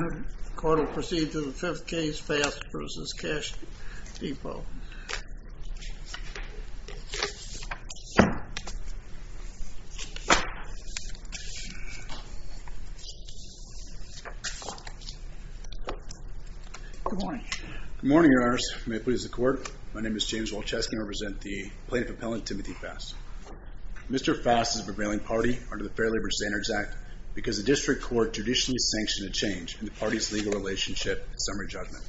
The court will proceed to the 5th case, Fast v. Cash Depot. Good morning. Good morning, Your Honors. May it please the court. My name is James Walczewski and I represent the plaintiff appellant, Timothy Fast. Mr. Fast is a prevailing party under the Fair Labor Standards Act because the district court traditionally sanctioned a change in the party's legal relationship at summary judgment.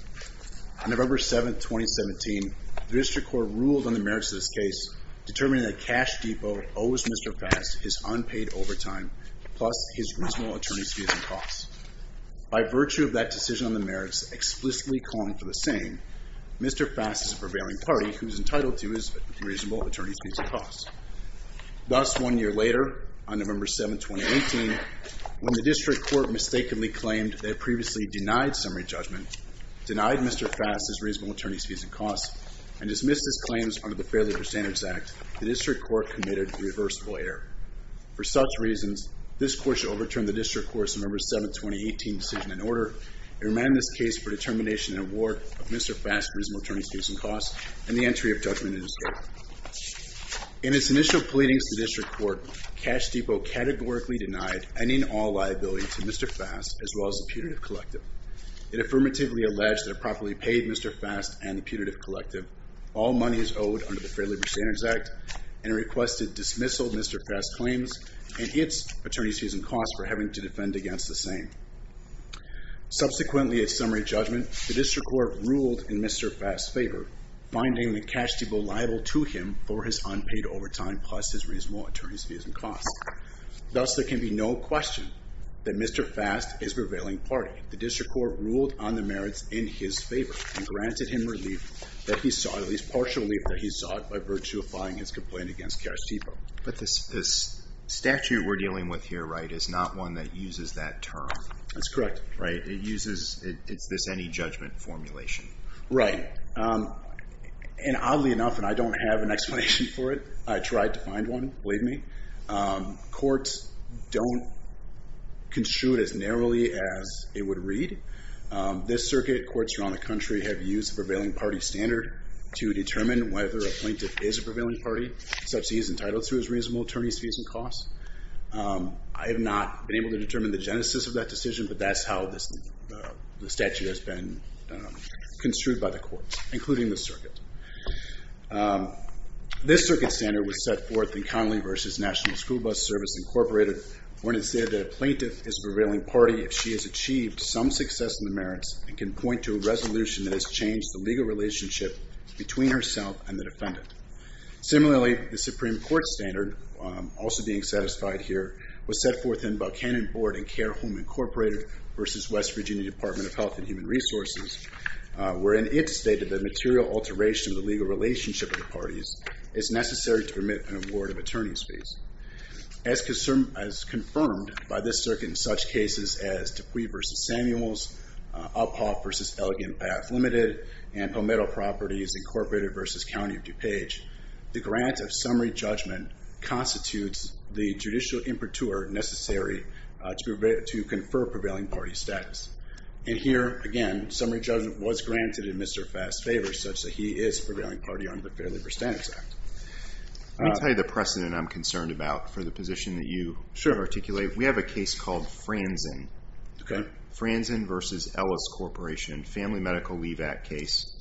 On November 7, 2017, the district court ruled on the merits of this case determining that Cash Depot owes Mr. Fast his unpaid overtime plus his reasonable attorney's fees and costs. By virtue of that decision on the merits explicitly calling for the same, Mr. Fast is a prevailing party who is entitled to his reasonable attorney's fees and costs. Thus, one year later, on November 7, 2018, when the district court mistakenly claimed they had previously denied summary judgment, denied Mr. Fast his reasonable attorney's fees and costs, and dismissed his claims under the Fair Labor Standards Act, the district court committed a reversible error. For such reasons, this court shall overturn the district court's November 7, 2018, decision and order and remand this case for determination and award of Mr. Fast's reasonable attorney's fees and costs and the entry of judgment in his favor. In its initial pleadings to the district court, Cash Depot categorically denied any and all liability to Mr. Fast as well as the Putative Collective. It affirmatively alleged that it properly paid Mr. Fast and the Putative Collective all monies owed under the Fair Labor Standards Act and requested dismissal of Mr. Fast's claims and its attorney's fees and costs for having to defend against the same. Subsequently, at summary judgment, the district court ruled in Mr. Fast's favor, finding the Cash Depot liable to him for his unpaid overtime plus his reasonable attorney's fees and costs. Thus, there can be no question that Mr. Fast is prevailing party. The district court ruled on the merits in his favor and granted him relief that he sought, at least partial relief that he sought, by virtue of filing his complaint against Cash Depot. But this statute we're dealing with here, right, is not one that uses that term. That's correct. Right, it uses, it's this any judgment formulation. Right, and oddly enough, and I don't have an explanation for it, I tried to find one, believe me, courts don't construe it as narrowly as it would read. This circuit, courts around the country have used the prevailing party standard to determine whether a plaintiff is a prevailing party, such that he is entitled to his reasonable attorney's fees and costs. I have not been able to determine the genesis of that decision, but that's how the statute has been construed by the court, including the circuit. This circuit standard was set forth in Connolly v. National School Bus Service, Inc., when it said that a plaintiff is a prevailing party if she has achieved some success in the merits and can point to a resolution that has changed the legal relationship between herself and the defendant. Similarly, the Supreme Court standard, also being satisfied here, was set forth in Buchanan Board and Care Home, Incorporated v. West Virginia Department of Health and Human Resources, wherein it stated that material alteration of the legal relationship of the parties is necessary to permit an award of attorney's fees. As confirmed by this circuit in such cases as Dupuy v. Samuels, Uphoff v. Elegant Path, Ltd., and Palmetto Properties, Incorporated v. County of DuPage, the grant of summary judgment constitutes the judicial imperture necessary to confer prevailing party status. And here, again, summary judgment was granted in Mr. Fass' favor, such that he is a prevailing party under the Fair Labor Standards Act. Let me tell you the precedent I'm concerned about for the position that you articulate. We have a case called Franzen v. Ellis Corporation, Family Medical Leave Act case,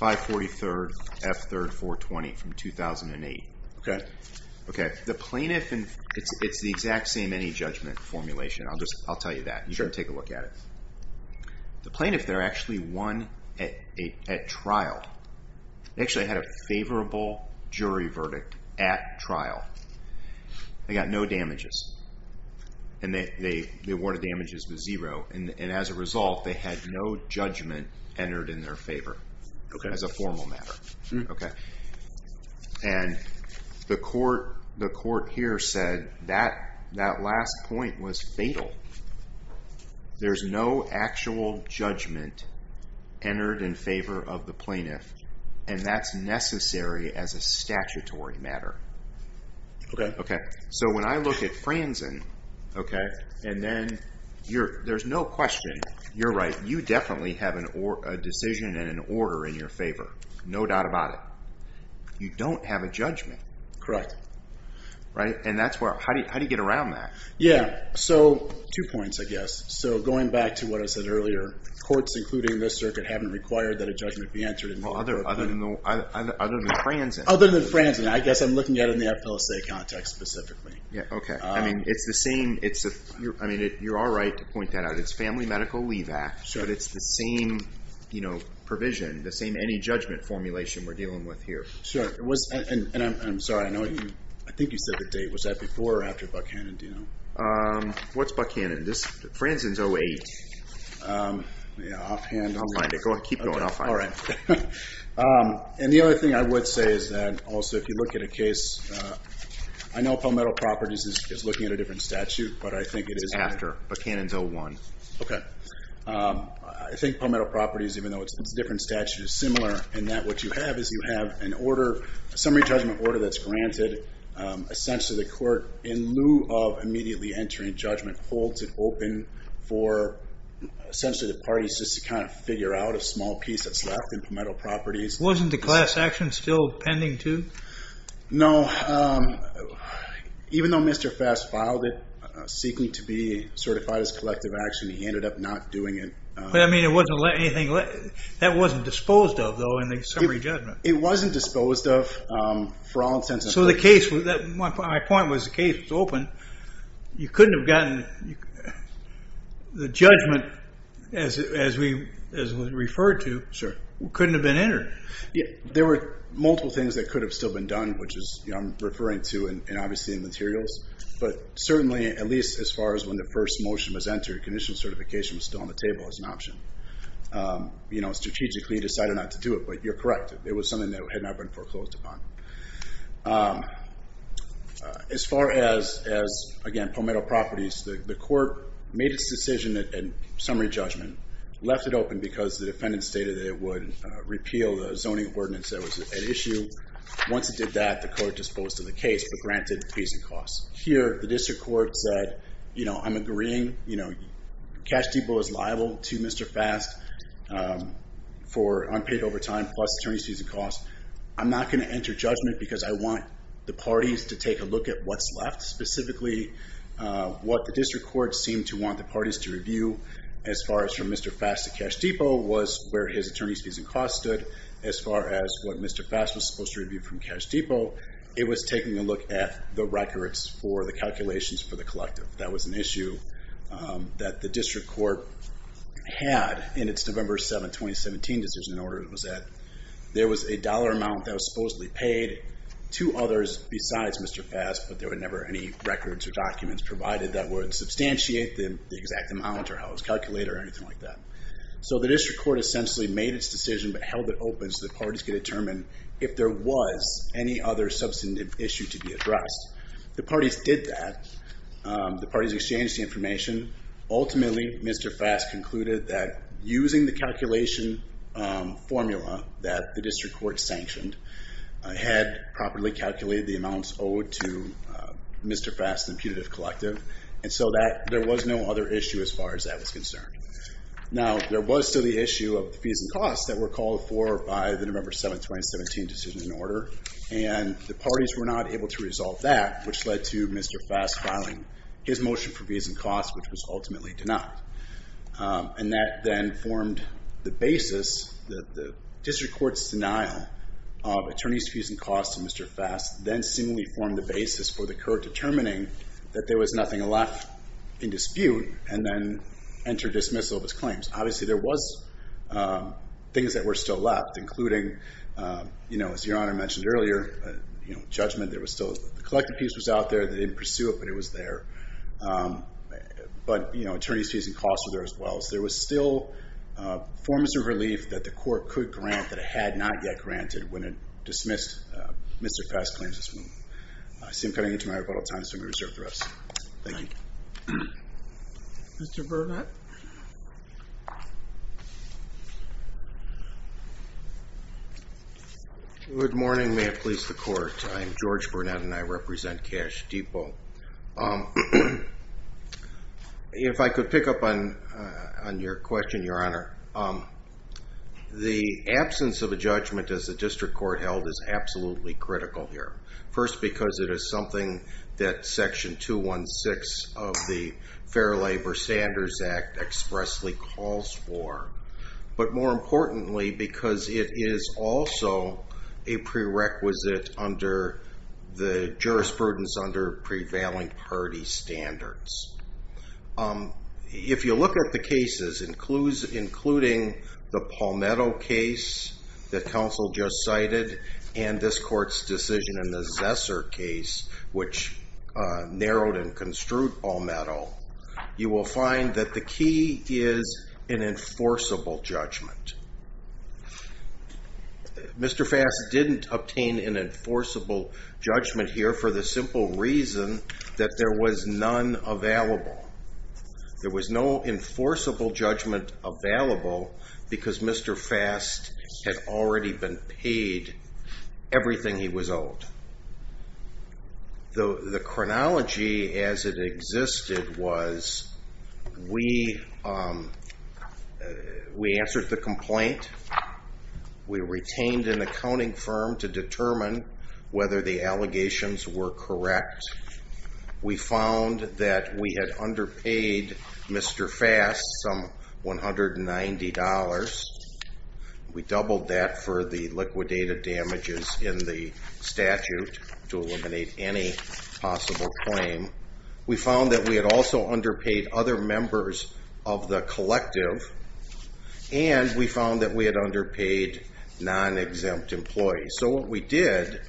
543rd F. 3rd 420 from 2008. The plaintiff, and it's the exact same any judgment formulation, I'll tell you that. You can take a look at it. The plaintiff there actually won at trial. They actually had a favorable jury verdict at trial. And as a result, they had no judgment entered in their favor as a formal matter. And the court here said that last point was fatal. There's no actual judgment entered in favor of the plaintiff, and that's necessary as a statutory matter. So when I look at Franzen, and then there's no question. You're right. You definitely have a decision and an order in your favor. No doubt about it. You don't have a judgment. How do you get around that? Two points, I guess. Going back to what I said earlier, courts, including this circuit, haven't required that a judgment be entered in favor of the plaintiff. Other than Franzen? Other than Franzen. I guess I'm looking at it in the appellate state context specifically. Okay. You're all right to point that out. It's Family Medical Leave Act, but it's the same provision, the same any judgment formulation we're dealing with here. Sure. And I'm sorry, I think you said the date. Was that before or after Buckhannon? What's Buckhannon? Franzen's 08. I'll find it. Keep going. I'll find it. And the other thing I would say is that also if you look at a case, I know Palmetto Properties is looking at a different statute, but I think it is after. It's after. Buckhannon's 01. Okay. I think Palmetto Properties, even though it's a different statute, is similar in that what you have is you have an order, a summary judgment order that's granted. Essentially the court, in lieu of immediately entering judgment, holds it open for essentially the parties just to kind of figure out what sort of small piece that's left in Palmetto Properties. Wasn't the class action still pending too? No. Even though Mr. Fass filed it seeking to be certified as collective action, he ended up not doing it. But I mean it wasn't anything that wasn't disposed of though in the summary judgment. It wasn't disposed of for all intents and purposes. So the case, my point was the case was open. You couldn't have gotten the judgment as we referred to, couldn't have been entered. There were multiple things that could have still been done, which I'm referring to obviously in materials. But certainly at least as far as when the first motion was entered, conditional certification was still on the table as an option. Strategically he decided not to do it, but you're correct. It was something that had not been foreclosed upon. As far as, again, Palmetto Properties, the court made its decision in summary judgment, left it open because the defendant stated that it would repeal the zoning ordinance that was at issue. Once it did that, the court disposed of the case, but granted fees and costs. Here the district court said, you know, I'm agreeing. You know, cash depot is liable to Mr. Fass for unpaid overtime plus attorney's fees and costs. I'm not going to enter judgment because I want the parties to take a look at what's left. Specifically what the district court seemed to want the parties to review as far as from Mr. Fass to cash depot was where his attorney's fees and costs stood. As far as what Mr. Fass was supposed to review from cash depot, it was taking a look at the records for the calculations for the collective. That was an issue that the district court had in its November 7, 2017 decision in order it was at. There was a dollar amount that was supposedly paid to others besides Mr. Fass, but there were never any records or documents provided that would substantiate the exact amount or how it was calculated or anything like that. So the district court essentially made its decision but held it open so the parties could determine if there was any other substantive issue to be addressed. The parties did that. The parties exchanged the information. Ultimately, Mr. Fass concluded that using the calculation formula that the district court sanctioned had properly calculated the amounts owed to Mr. Fass' imputative collective and so there was no other issue as far as that was concerned. Now there was still the issue of fees and costs that were called for by the November 7, 2017 decision in order, and the parties were not able to resolve that which led to Mr. Fass filing his motion for fees and costs which was ultimately denied. And that then formed the basis that the district court's denial of attorneys' fees and costs to Mr. Fass then seemingly formed the basis for the court determining that there was nothing left in dispute and then entered dismissal of its claims. Obviously there was things that were still left including, as Your Honor mentioned earlier, judgment. The collective piece was out there. They didn't pursue it but it was there. But, you know, attorneys' fees and costs were there as well. So there was still forms of relief that the court could grant that it had not yet granted when it dismissed Mr. Fass' claims. I see him coming into my rebuttal time so I'm going to reserve for us. Thank you. Good morning. May it please the court. I'm George Burnett and I represent Cash Depot. If I could pick up on your question, Your Honor. The absence of a judgment as the district court held is absolutely critical here. First because it is something that Section 216 of the Fair Labor Standards Act expressly calls for, but more importantly because it is also a prerequisite under the jurisprudence under prevailing party standards. If you look at the cases, including the Palmetto case that counsel just cited and this court's decision in the Zesser case, which narrowed and construed Palmetto, you will find that the key is an enforceable judgment. Mr. Fass didn't obtain an enforceable judgment here for the simple reason that there was none available. There was no enforceable judgment available because Mr. Fass had already been paid everything he was owed. The chronology as it existed was we answered the complaint. We retained an accounting firm to determine whether the allegations were correct. We found that we had underpaid Mr. Fass some $190. We doubled that for the liquidated damages in the statute to eliminate any possible claim. We found that we had also underpaid other members of the collective, and we found that we had underpaid non-exempt employees. So what we did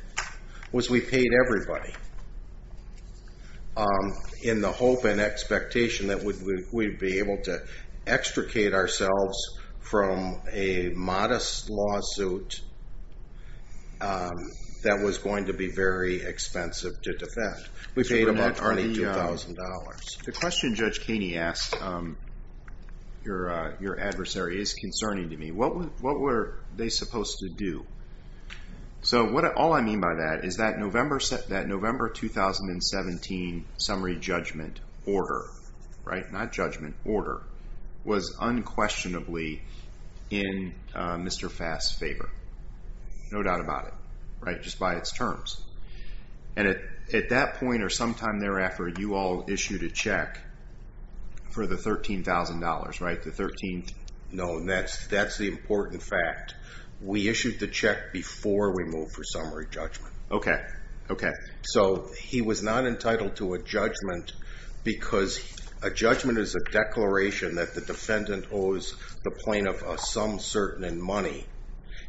was we paid everybody in the hope and expectation that we'd be able to extricate ourselves from a modest lawsuit that was going to be very expensive to defend. We paid about $32,000. The question Judge Kaney asked your adversary is concerning to me. What were they supposed to do? So all I mean by that is that November 2017 summary judgment order, not judgment, order, was unquestionably in Mr. Fass' favor, no doubt about it, just by its terms. And at that point or sometime thereafter, you all issued a check for the $13,000, right? No, and that's the important fact. We issued the check before we moved for summary judgment. Okay, okay. So he was not entitled to a judgment because a judgment is a declaration that the defendant owes the plaintiff some certain money.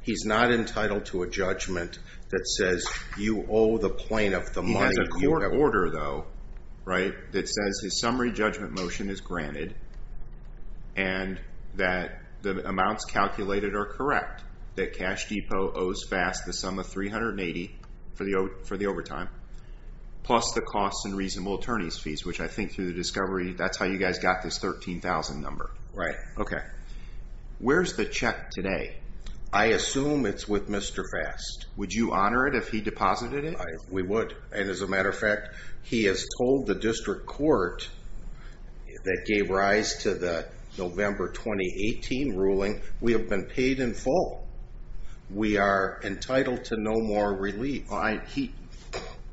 He's not entitled to a judgment that says you owe the plaintiff the money. He has a court order, though, right, that says his summary judgment motion is granted and that the amounts calculated are correct, that Cash Depot owes Fass the sum of $380 for the overtime plus the costs and reasonable attorney's fees, which I think through the discovery, that's how you guys got this $13,000 number. Right. Okay. Where's the check today? I assume it's with Mr. Fass. Would you honor it if he deposited it? We would, and as a matter of fact, he has told the district court that gave rise to the November 2018 ruling, we have been paid in full. We are entitled to no more relief.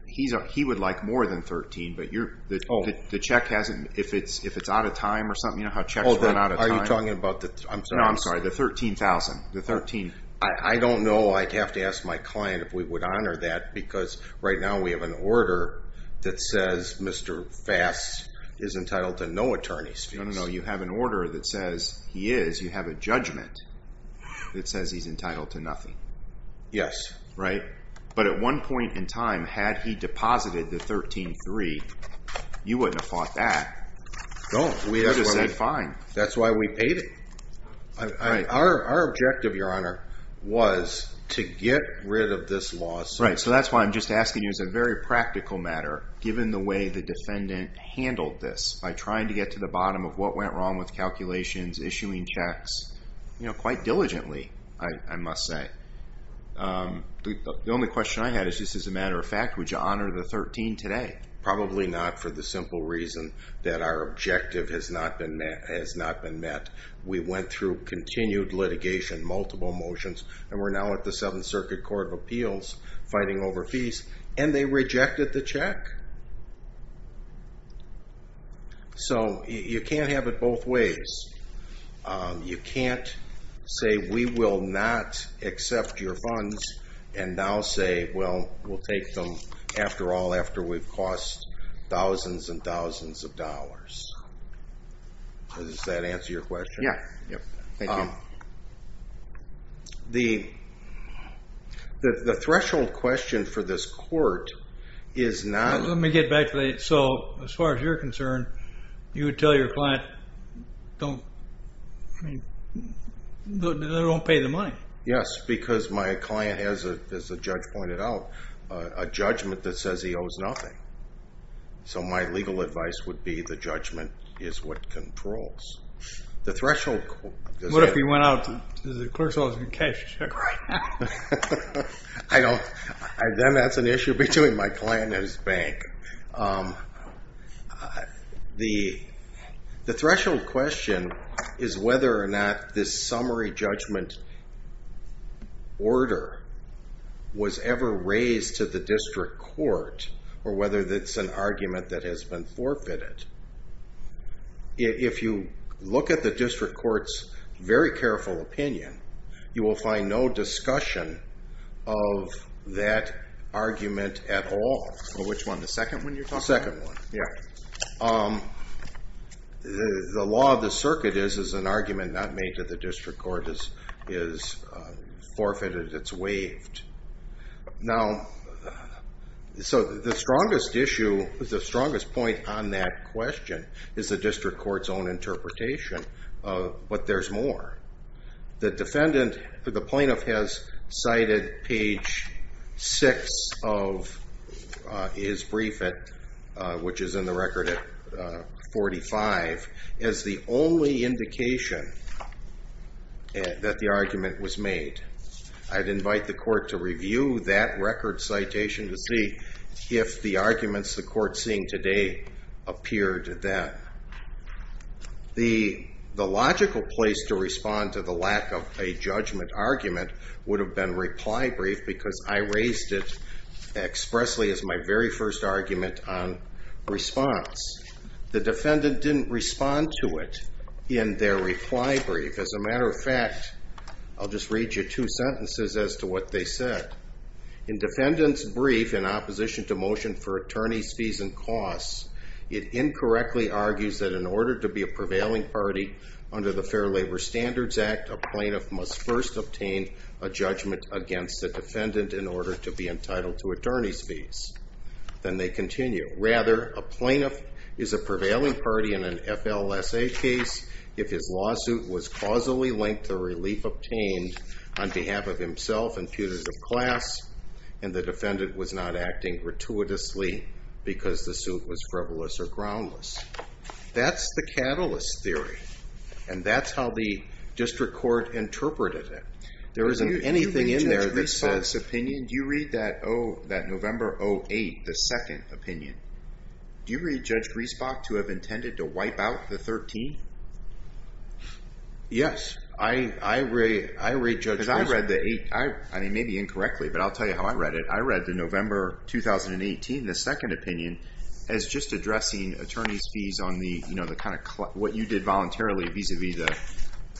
He would like more than $13,000, but the check hasn't, if it's out of time or something, you know how checks run out of time? Are you talking about the $13,000? I don't know. I'd have to ask my client if we would honor that because right now we have an order that says Mr. Fass is entitled to no attorney's fees. No, no, no. You have an order that says he is. You have a judgment that says he's entitled to nothing. Yes. Right. But at one point in time, had he deposited the $13,300, you wouldn't have fought that. No. We would have said fine. That's why we paid him. Our objective, Your Honor, was to get rid of this lawsuit. Right. So that's why I'm just asking you as a very practical matter, given the way the defendant handled this, by trying to get to the bottom of what went wrong with calculations, issuing checks, you know, quite diligently, I must say. The only question I had is just as a matter of fact, would you honor the $13,000 today? Probably not for the simple reason that our objective has not been met. We went through continued litigation, multiple motions, and we're now at the Seventh Circuit Court of Appeals fighting over fees, and they rejected the check. So you can't have it both ways. You can't say we will not accept your funds and now say, well, we'll take them after all after we've cost thousands and thousands of dollars. Does that answer your question? Yeah. Thank you. The threshold question for this court is not – Let me get back to that. So as far as you're concerned, you would tell your client don't – I mean, they don't pay the money. Yes, because my client has, as the judge pointed out, a judgment that says he owes nothing. So my legal advice would be the judgment is what controls. What if he went out to the clerk's office and cashed the check? Then that's an issue between my client and his bank. The threshold question is whether or not this summary judgment order was ever raised to the district court or whether it's an argument that has been forfeited. If you look at the district court's very careful opinion, you will find no discussion of that argument at all. Which one, the second one you're talking about? The second one, yeah. The law of the circuit is an argument not made to the district court is forfeited. It's waived. Now, so the strongest issue, the strongest point on that question is the district court's own interpretation, but there's more. The defendant, the plaintiff has cited page 6 of his brief, which is in the record at 45, as the only indication that the argument was made. I'd invite the court to review that record citation to see if the arguments the court's seeing today appeared then. The logical place to respond to the lack of a judgment argument would have been reply brief because I raised it expressly as my very first argument on response. The defendant didn't respond to it in their reply brief. As a matter of fact, I'll just read you two sentences as to what they said. In defendant's brief in opposition to motion for attorney's fees and costs, it incorrectly argues that in order to be a prevailing party under the Fair Labor Standards Act, a plaintiff must first obtain a judgment against the defendant in order to be entitled to attorney's fees. Then they continue. Rather, a plaintiff is a prevailing party in an FLSA case if his lawsuit was causally linked to relief obtained on behalf of himself and putative class and the defendant was not acting gratuitously because the suit was frivolous or groundless. That's the catalyst theory, and that's how the district court interpreted it. There isn't anything in there that says... Do you read Judge Griesbach's opinion? Do you read that November 08, the second opinion? Do you read Judge Griesbach to have intended to wipe out the 13? Yes. I read Judge Griesbach. Because I read the 8. I mean, maybe incorrectly, but I'll tell you how I read it. I read the November 2018, the second opinion, as just addressing attorney's fees on the kind of what you did voluntarily vis-a-vis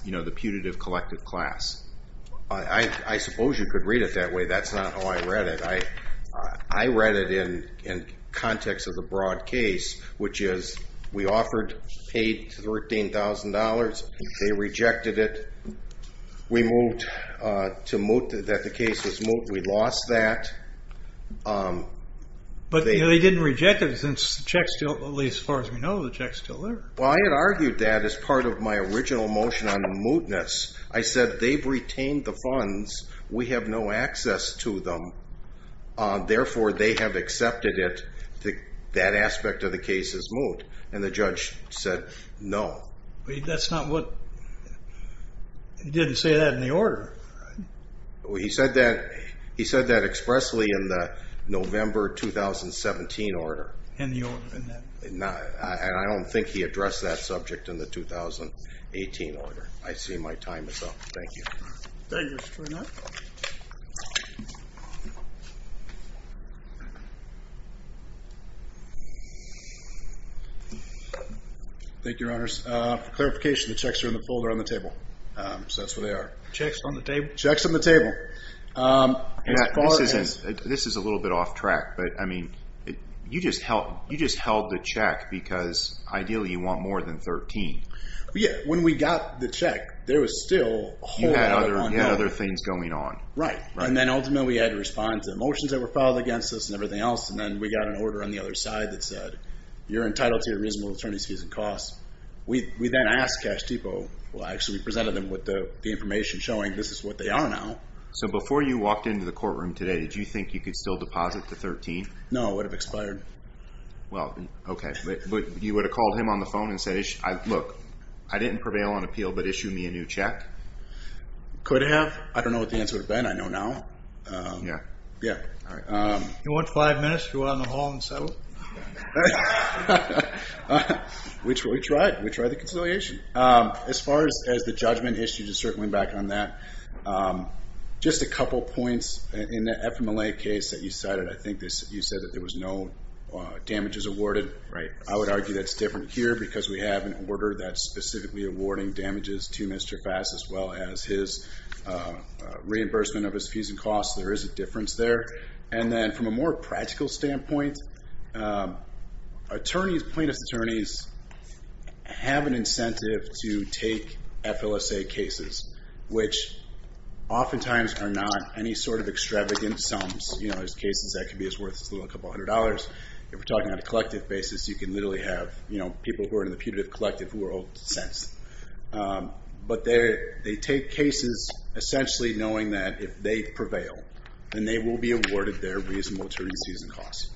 the putative collective class. I suppose you could read it that way. That's not how I read it. I read it in context of the broad case, which is we offered paid $13,000. They rejected it. We moved to moot that the case was moot. We lost that. But they didn't reject it since the check's still, at least as far as we know, the check's still there. Well, I had argued that as part of my original motion on mootness. I said they've retained the funds. We have no access to them. Therefore, they have accepted it. That aspect of the case is moot. And the judge said no. But that's not what he did. He didn't say that in the order. He said that expressly in the November 2017 order. And I don't think he addressed that subject in the 2018 order. I see my time is up. Thank you. Thank you, Mr. Turner. Thank you, Your Honors. For clarification, the checks are in the folder on the table. So that's where they are. Checks on the table? Checks on the table. Matt, this is a little bit off track, but, I mean, you just held the check because ideally you want more than $13,000. When we got the check, there was still a whole lot going on. You had other things going on. Right. And then ultimately we had to respond to the motions that were filed against us and everything else. And then we got an order on the other side that said, you're entitled to your reasonable attorney's fees and costs. We then asked Cash Depot. Well, actually, we presented them with the information showing this is what they are now. So before you walked into the courtroom today, did you think you could still deposit the $13,000? No, it would have expired. Well, okay. But you would have called him on the phone and said, look, I didn't prevail on appeal, but issue me a new check? Could have. I don't know what the answer would have been. I know now. Yeah. Yeah. All right. You want five minutes to go out in the hall and settle? We tried. We tried the conciliation. As far as the judgment issue, just circling back on that, just a couple points in the FMLA case that you cited. I think you said that there was no damages awarded. Right. I would argue that's different here because we have an order that's specifically awarding damages to Mr. Fass, as well as his reimbursement of his fees and costs. There is a difference there. And then from a more practical standpoint, plaintiff's attorneys have an incentive to take FLSA cases, which oftentimes are not any sort of extravagant sums. There's cases that can be as worth as a couple hundred dollars. If we're talking on a collective basis, you can literally have people who are in the putative collective world sense. But they take cases essentially knowing that if they prevail, then they will be awarded their reasonable attorneys' fees and costs.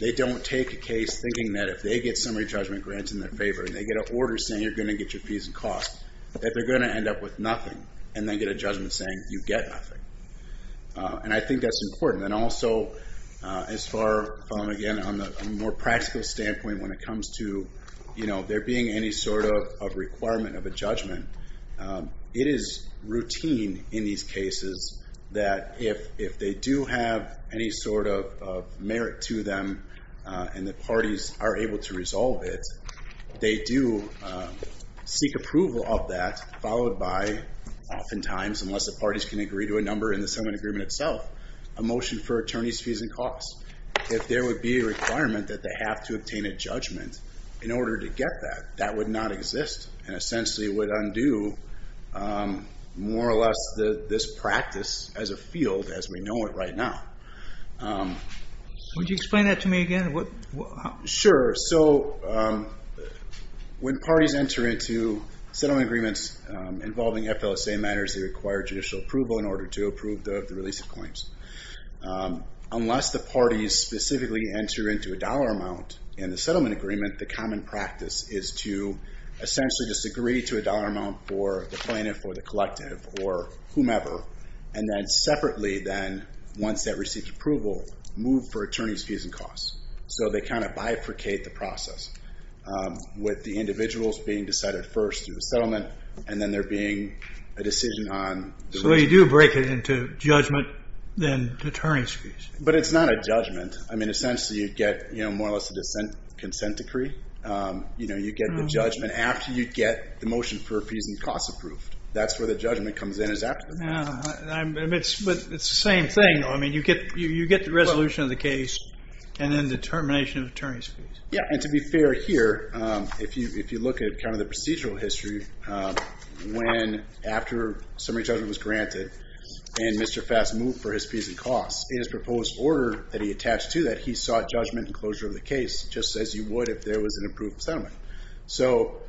They don't take a case thinking that if they get summary judgment grants in their favor and they get an order saying you're going to get your fees and costs, that they're going to end up with nothing, and then get a judgment saying you get nothing. And I think that's important. And also, as far from, again, a more practical standpoint when it comes to there being any sort of requirement of a judgment, it is routine in these cases that if they do have any sort of merit to them and the parties are able to resolve it, they do seek approval of that followed by oftentimes, unless the parties can agree to a number in the settlement agreement itself, a motion for attorneys' fees and costs. If there would be a requirement that they have to obtain a judgment in order to get that, that would not exist and essentially would undo more or less this practice as a field as we know it right now. Would you explain that to me again? Sure. So when parties enter into settlement agreements involving FLSA matters, they require judicial approval in order to approve the release of claims. Unless the parties specifically enter into a dollar amount in the settlement agreement, the common practice is to essentially just agree to a dollar amount for the plaintiff or the collective or whomever, and then separately then, once that receives approval, move for attorneys' fees and costs. So they kind of bifurcate the process with the individuals being decided first through the settlement and then there being a decision on the release. So you do break it into judgment, then attorneys' fees. But it's not a judgment. I mean, essentially you get more or less a consent decree. You get the judgment after you get the motion for fees and costs approved. That's where the judgment comes in is after the fee. It's the same thing. I mean, you get the resolution of the case and then the termination of attorneys' fees. Yeah, and to be fair here, if you look at kind of the procedural history, when after summary judgment was granted and Mr. Fass moved for his fees and costs, in his proposed order that he attached to that, he sought judgment and closure of the case just as you would if there was an approved settlement. So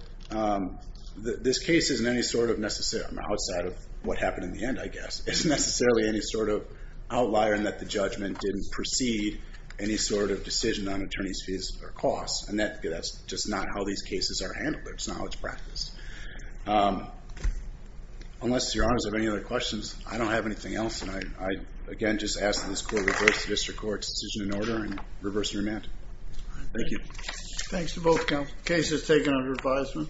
this case isn't any sort of necessarily outside of what happened in the end, I guess. It's necessarily any sort of outlier in that the judgment didn't precede any sort of decision on attorneys' fees or costs. And that's just not how these cases are handled. That's not how it's practiced. Unless your honors have any other questions, I don't have anything else. And I, again, just ask that this court reverse the district court's decision in order and reverse the remand. Thank you. Thanks to both counsel. Case is taken under advisement.